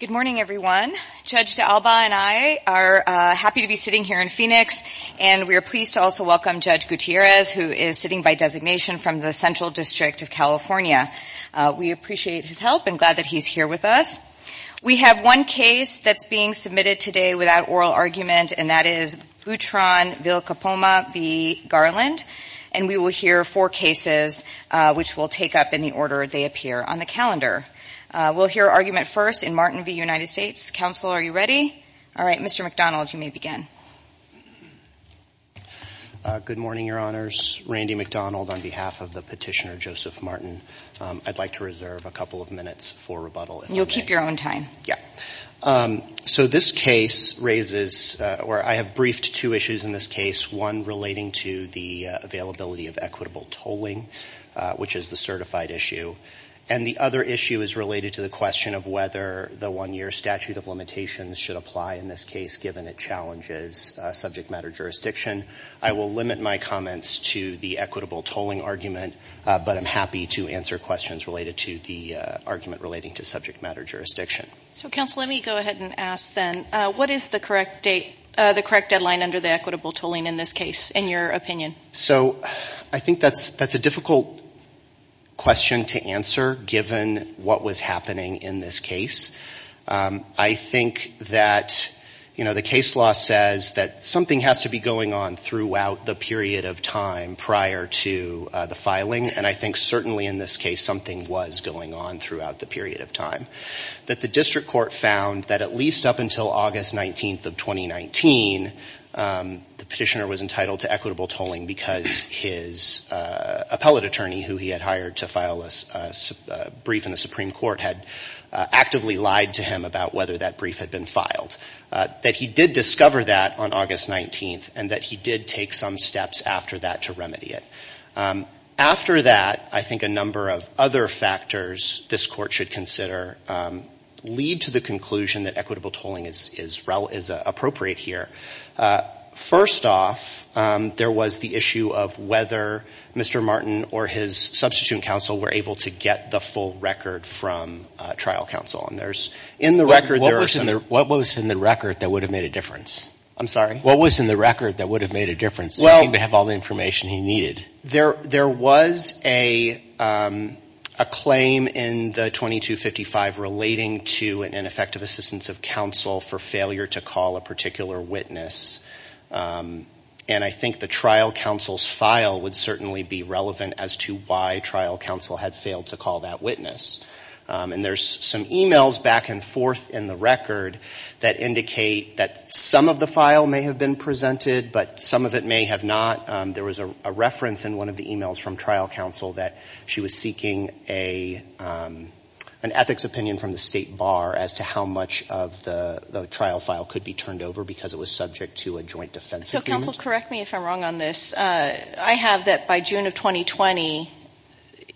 Good morning, everyone. Judge D'Alba and I are happy to be sitting here in Phoenix, and we are pleased to also welcome Judge Gutierrez, who is sitting by designation from the Central District of California. We appreciate his help and glad that he's here with us. We have one case that's being submitted today without oral argument, and that is Boutron v. Garland, and we will hear four cases, which we'll take up in the order they appear on the calendar. We'll hear argument first in Martin v. United States. Counsel, are you ready? All right, Mr. McDonald, you may begin. Good morning, Your Honors. Randy McDonald on behalf of the petitioner Joseph Martin. I'd like to reserve a couple of minutes for rebuttal, if I may. You'll keep your own time. So this case raises, or I have briefed two issues in this case, one relating to the availability of equitable tolling, which is the certified issue, and the other issue is related to the question of whether the one-year statute of limitations should apply in this case, given it challenges subject matter jurisdiction. I will limit my comments to the equitable tolling argument, but I'm happy to answer questions related to the argument relating to subject matter jurisdiction. So, Counsel, let me go ahead and ask then, what is the correct deadline under the equitable tolling in this case, in your opinion? So I think that's a difficult question to answer, given what was happening in this case. I think that, you know, the case law says that something has to be going on throughout the period of time prior to the filing, and I think certainly in this case something was going on throughout the period of time, that the district court found that at least up until August 19th of 2019, the petitioner was entitled to equitable tolling because his appellate attorney, who he had hired to file a brief in the Supreme Court, had actively lied to him about whether that brief had been filed, that he did discover that on August 19th, and that he did take some steps after that to remedy it. After that, I think a number of other factors this Court should consider lead to the conclusion that equitable tolling is appropriate here. First off, there was the issue of whether Mr. Martin or his substitute counsel were able to get the full record from trial counsel, and there's, in the record there are some What was in the record that would have made a difference? I'm sorry? What was in the record that would have made a difference, since he didn't have all the information he needed? There was a claim in the 2255 relating to an ineffective assistance of counsel for failure to call a particular witness, and I think the trial counsel's file would certainly be relevant as to why trial counsel had failed to call that witness, and there's some emails back and forth in the record that indicate that some of the file may have been presented, but some of it may have not. There was a reference in one of the emails from trial counsel that she was seeking an ethics opinion from the State Bar as to how much of the trial file could be turned over because it was subject to a joint defense agreement. So counsel, correct me if I'm wrong on this. I have that by June of 2020,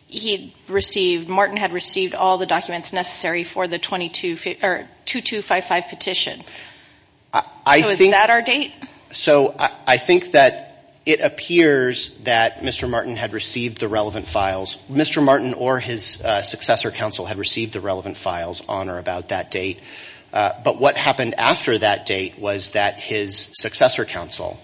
he received, Martin had received all the documents necessary for the 2255 petition, so is that our date? So I think that it appears that Mr. Martin had received the relevant files. Mr. Martin or his successor counsel had received the relevant files on or about that date, but what happened after that date was that his successor counsel,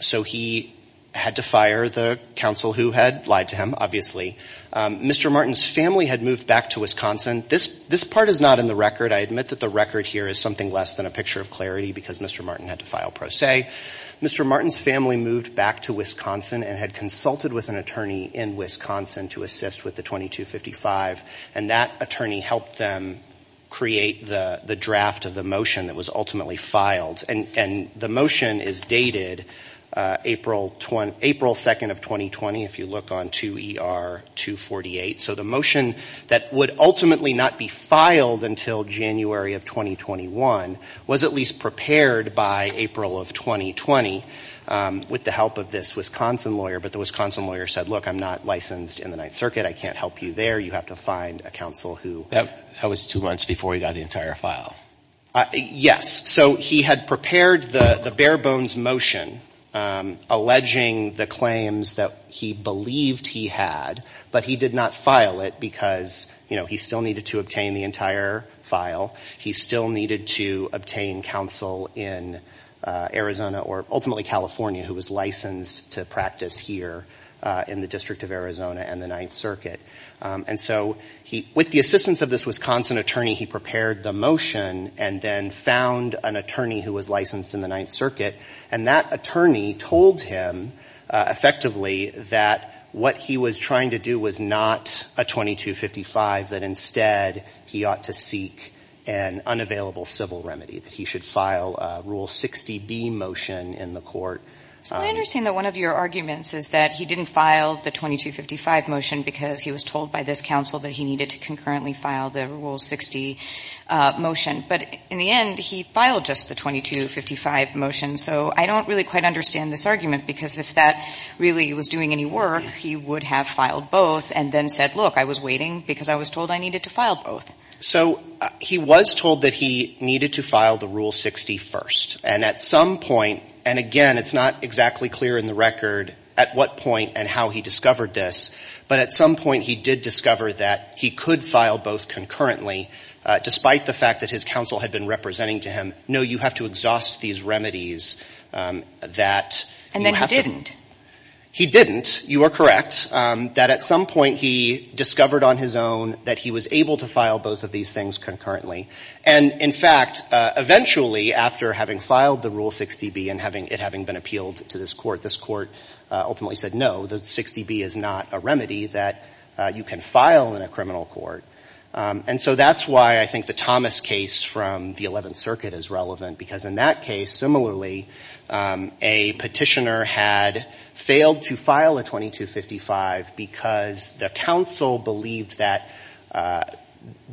so he had to fire the counsel who had lied to him, obviously. Mr. Martin's family had moved back to Wisconsin. This part is not in the record. I admit that the record here is something less than a picture of clarity because Mr. Martin's family moved back to Wisconsin and had consulted with an attorney in Wisconsin to assist with the 2255 and that attorney helped them create the draft of the motion that was ultimately filed and the motion is dated April 2nd of 2020 if you look on 2ER248. So the motion that would ultimately not be filed until January of 2021 was at least prepared by April of 2020 with the help of this Wisconsin lawyer, but the Wisconsin lawyer said, look, I'm not licensed in the Ninth Circuit. I can't help you there. You have to find a counsel who... That was two months before he got the entire file. Yes, so he had prepared the bare bones motion alleging the claims that he believed he had, but he did not file it because, you know, he still needed to obtain the entire file. He still needed to obtain counsel in Arizona or ultimately California who was licensed to practice here in the District of Arizona and the Ninth Circuit. And so with the assistance of this Wisconsin attorney, he prepared the motion and then found an attorney who was licensed in the Ninth Circuit and that attorney told him effectively that what he was trying to do was not a 2255, that instead he ought to seek an unavailable civil remedy, that he should file a Rule 60B motion in the court. So I understand that one of your arguments is that he didn't file the 2255 motion because he was told by this counsel that he needed to concurrently file the Rule 60 motion. But in the end, he filed just the 2255 motion. So I don't really quite understand this argument because if that really was doing any work, he would have filed both and then said, look, I was waiting because I was told I needed to file both. So he was told that he needed to file the Rule 60 first. And at some point, and again, it's not exactly clear in the record at what point and how he discovered this, but at some point he did discover that he could file both concurrently despite the fact that his counsel had been representing to him, no, you have to exhaust these remedies that you have to And then he didn't? He didn't, you are correct, that at some point he discovered on his own that he was able to file both of these things concurrently. And in fact, eventually, after having filed the Rule 60B and it having been appealed to this court, this court ultimately said, no, the 60B is not a remedy that you can file in a criminal court. And so that's why I think the Thomas case from the Eleventh Circuit is relevant because in that case, similarly, a petitioner had failed to file a 2255 because the counsel believed that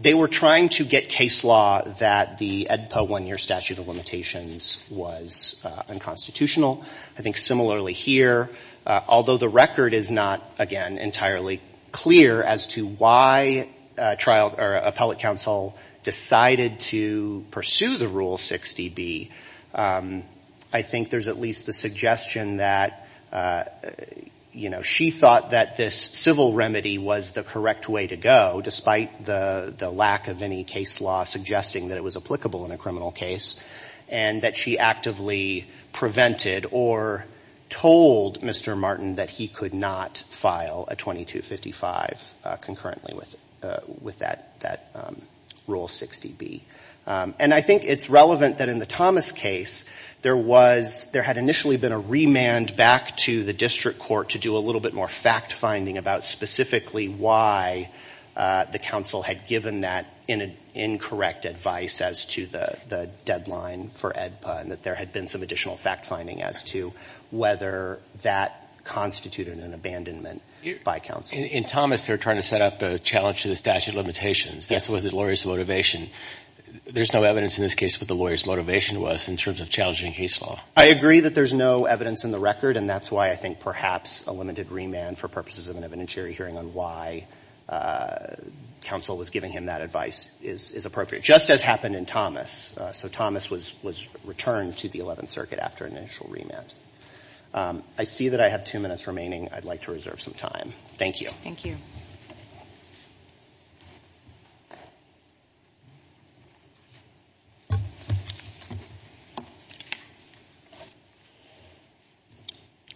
they were trying to get case law that the EDPA one-year statute of limitations was unconstitutional. I think similarly here, although the record is not, again, entirely clear as to why appellate counsel decided to pursue the Rule 60B, I think there's at least the suggestion that, you know, she thought that this civil remedy was the correct way to go despite the lack of any case law suggesting that it was applicable in a criminal case and that she actively prevented or told Mr. Martin that he could not file a 2255 concurrently with that Rule 60B. And I think it's relevant that in the Thomas case, there had initially been a remand back to the district court to do a little bit more fact-finding about specifically why the counsel had given that incorrect advice as to the deadline for EDPA and that there had been some additional fact-finding as to whether that constituted an abandonment by counsel. In Thomas, they're trying to set up a challenge to the statute of limitations. Yes. That's what the lawyer's motivation – there's no evidence in this case what the lawyer's motivation was in terms of challenging case law. I agree that there's no evidence in the record, and that's why I think perhaps a limited remand for purposes of an evidentiary hearing on why counsel was giving him that advice is appropriate, just as happened in Thomas. So Thomas was returned to the Eleventh Circuit after an initial remand. I see that I have two minutes remaining. I'd like to reserve some time. Thank you. Thank you.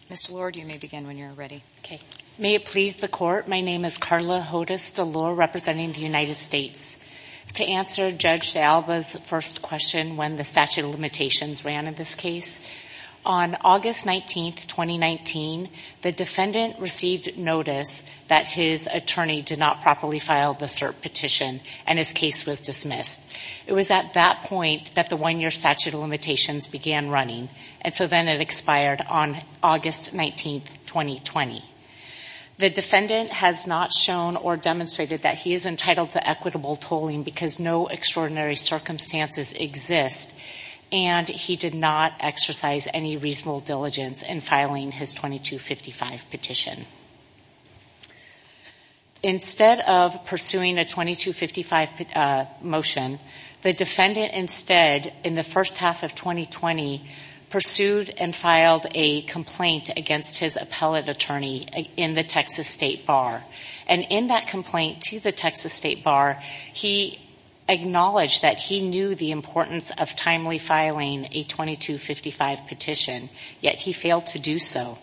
Ms. DeLorde, you may begin when you're ready. Okay. May it please the Court, my name is Carla Hodes DeLorde, representing the United States. To answer Judge DeAlba's first question, when the statute of limitations ran in this case, on August 19, 2019, the defendant received notice that his attorney did not properly file the cert petition, and his case was dismissed. It was at that point that the one-year statute of limitations began running, and so then it expired on August 19, 2020. The defendant has not shown or demonstrated that he is entitled to equitable tolling, because no extraordinary circumstances exist, and he did not exercise any reasonable diligence in filing his 2255 petition. Instead of pursuing a 2255 motion, the defendant instead, in the first half of 2020, pursued and filed a complaint against his appellate attorney in the Texas State Bar, and in that complaint to the Texas State Bar, he acknowledged that he knew the importance of timely filing a 2255 petition, yet he failed to do so.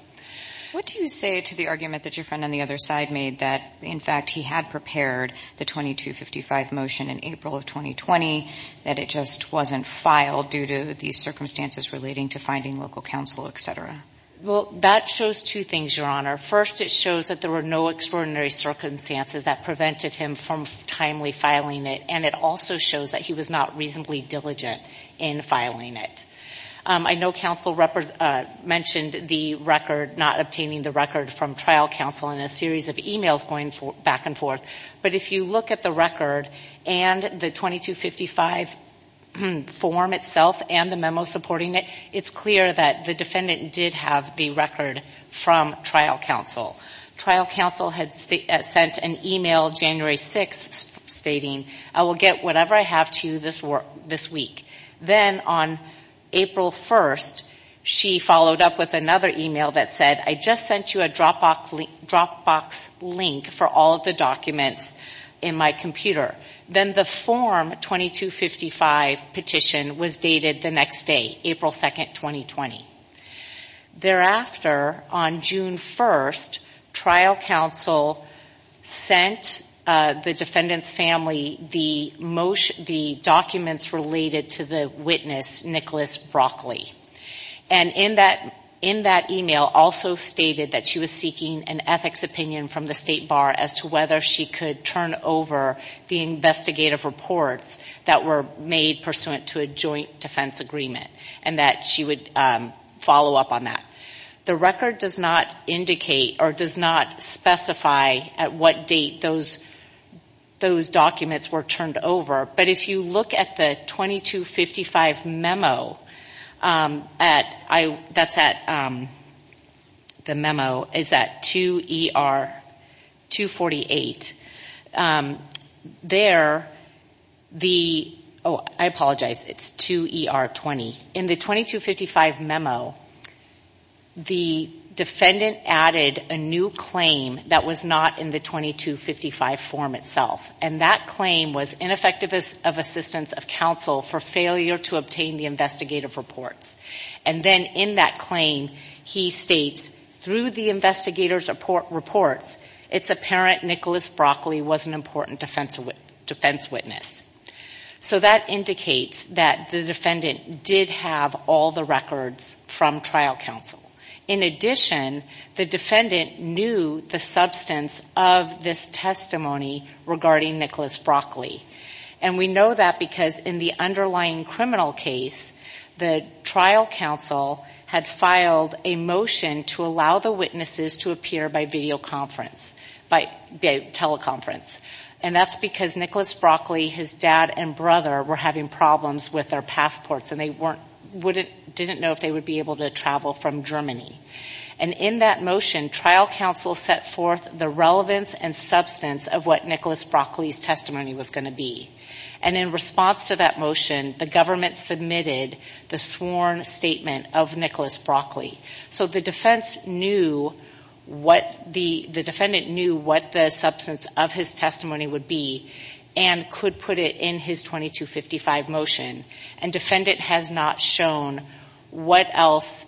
What do you say to the argument that your friend on the other side made that, in fact, he had prepared the 2255 motion in April of 2020, that it just wasn't filed due to these circumstances relating to finding local counsel, etc.? Well, that shows two things, Your Honor. First, it shows that there were no extraordinary circumstances that prevented him from timely filing it, and it also shows that he was not reasonably diligent in filing it. I know counsel mentioned the record, not obtaining the record from trial counsel, and a series of emails going back and forth, but if you look at the record and the 2255 form itself and the memo supporting it, it's clear that the defendant did have the record from trial counsel. Trial counsel had sent an email January 6th stating, I will get whatever I have to you this week. Then on April 1st, she followed up with another email that said, I just sent you a Dropbox link for all of the documents in my computer. Then the form 2255 petition was dated the next day, April 2nd, 2020. Thereafter, on June 1st, trial counsel sent the defendant's family the documents related to the witness, Nicholas Broccoli. And in that email, also stated that she was seeking an ethics opinion from the State Bar as to whether she could turn over the investigative reports that were made pursuant to a joint defense agreement, and that she would follow up on that. The record does not indicate or does not specify at what date those documents were turned over, but if you look at the 2255 memo, that's at, the memo is at 2ER248. There, the, oh, I apologize, it's 2ER20. In the 2255 memo, the defendant added a new claim that was not in the 2255 form itself, and that claim was ineffective of assistance of counsel for failure to obtain the investigative reports. And then in that claim, he states, through the investigator's reports, it's apparent Nicholas Broccoli was an important defense witness. So that indicates that the defendant did have all the records from trial counsel. In addition, the defendant knew the substance of this testimony regarding Nicholas Broccoli. And we know that because in the underlying criminal case, the trial counsel had filed a motion to allow the witnesses to appear by videoconference, by teleconference. And that's because Nicholas Broccoli, his dad and brother were having problems with their passports and they weren't, wouldn't, didn't know if they would be able to travel from Germany. And in that motion, trial counsel set forth the relevance and substance of what Nicholas Broccoli's testimony was going to be. And in response to that motion, the government submitted the sworn statement of Nicholas Broccoli. So the defense knew what the, the defendant knew what the substance of his testimony would be and could put it in his 2255 motion. And defendant has not shown what else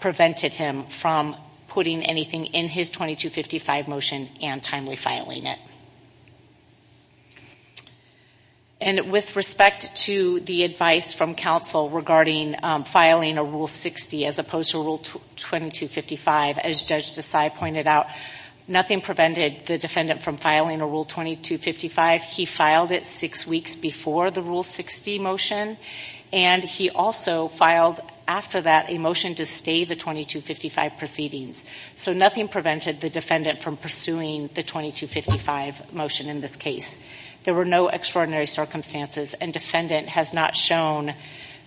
prevented him from putting anything in his 2255 motion and timely filing it. And with respect to the advice from counsel regarding filing a Rule 60 as opposed to Rule 2255, as Judge Desai pointed out, nothing prevented the defendant from filing a Rule 2255. He filed it six weeks before the Rule 60 motion and he also filed after that a motion to stay the 2255 proceedings. So nothing prevented the defendant from pursuing the 2255 motion in this case. There were no extraordinary circumstances and defendant has not shown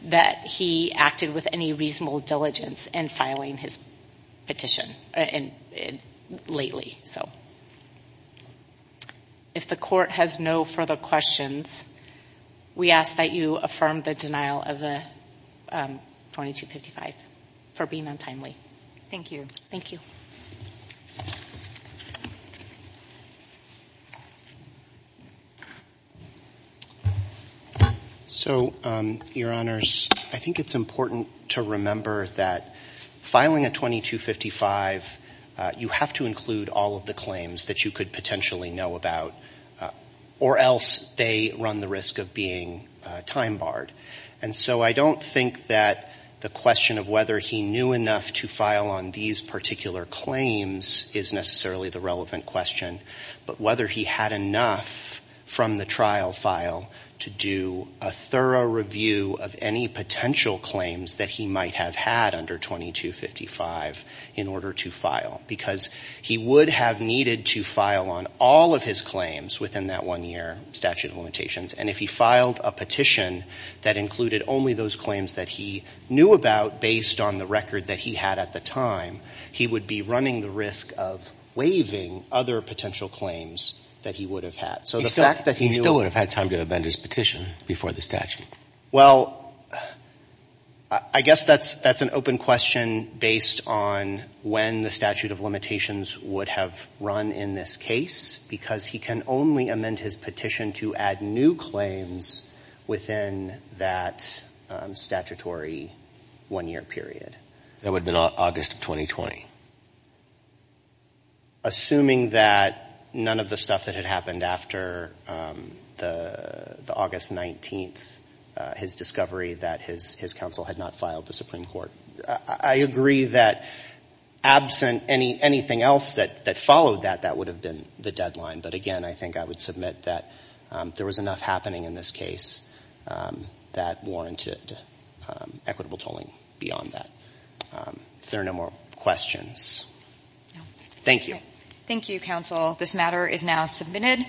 that he acted with any reasonable diligence in filing his petition lately, so. If the court has no further questions, we ask that you affirm the denial of the 2255 for being untimely. Thank you. Thank you. So, Your Honors, I think it's important to remember that filing a 2255, you have to include all of the claims that you could potentially know about or else they run the risk of being time barred. And so I don't think that the question of whether he knew enough to file on these particular claims is necessarily the relevant question, but whether he had enough from the trial file to do a thorough review of any potential claims that he might have had under 2255 in order to file, because he would have needed to file on all of his claims within that one year statute of limitations. And if he filed a petition that included only those claims that he knew about based on the record that he had at the time, he would be running the risk of waiving other potential claims that he would have had. He still would have had time to amend his petition before the statute. Well, I guess that's an open question based on when the statute of limitations would have run in this case, because he can only amend his petition to add new claims within that statutory one year period. That would have been August of 2020. Assuming that none of the stuff that had happened after the August 19th, his discovery that his counsel had not filed the Supreme Court, I agree that absent anything else that followed that, that would have been the deadline. But again, I think I would submit that there was enough happening in this case that warranted equitable tolling beyond that. Is there no more questions? Thank you. Thank you, counsel. This matter is now submitted.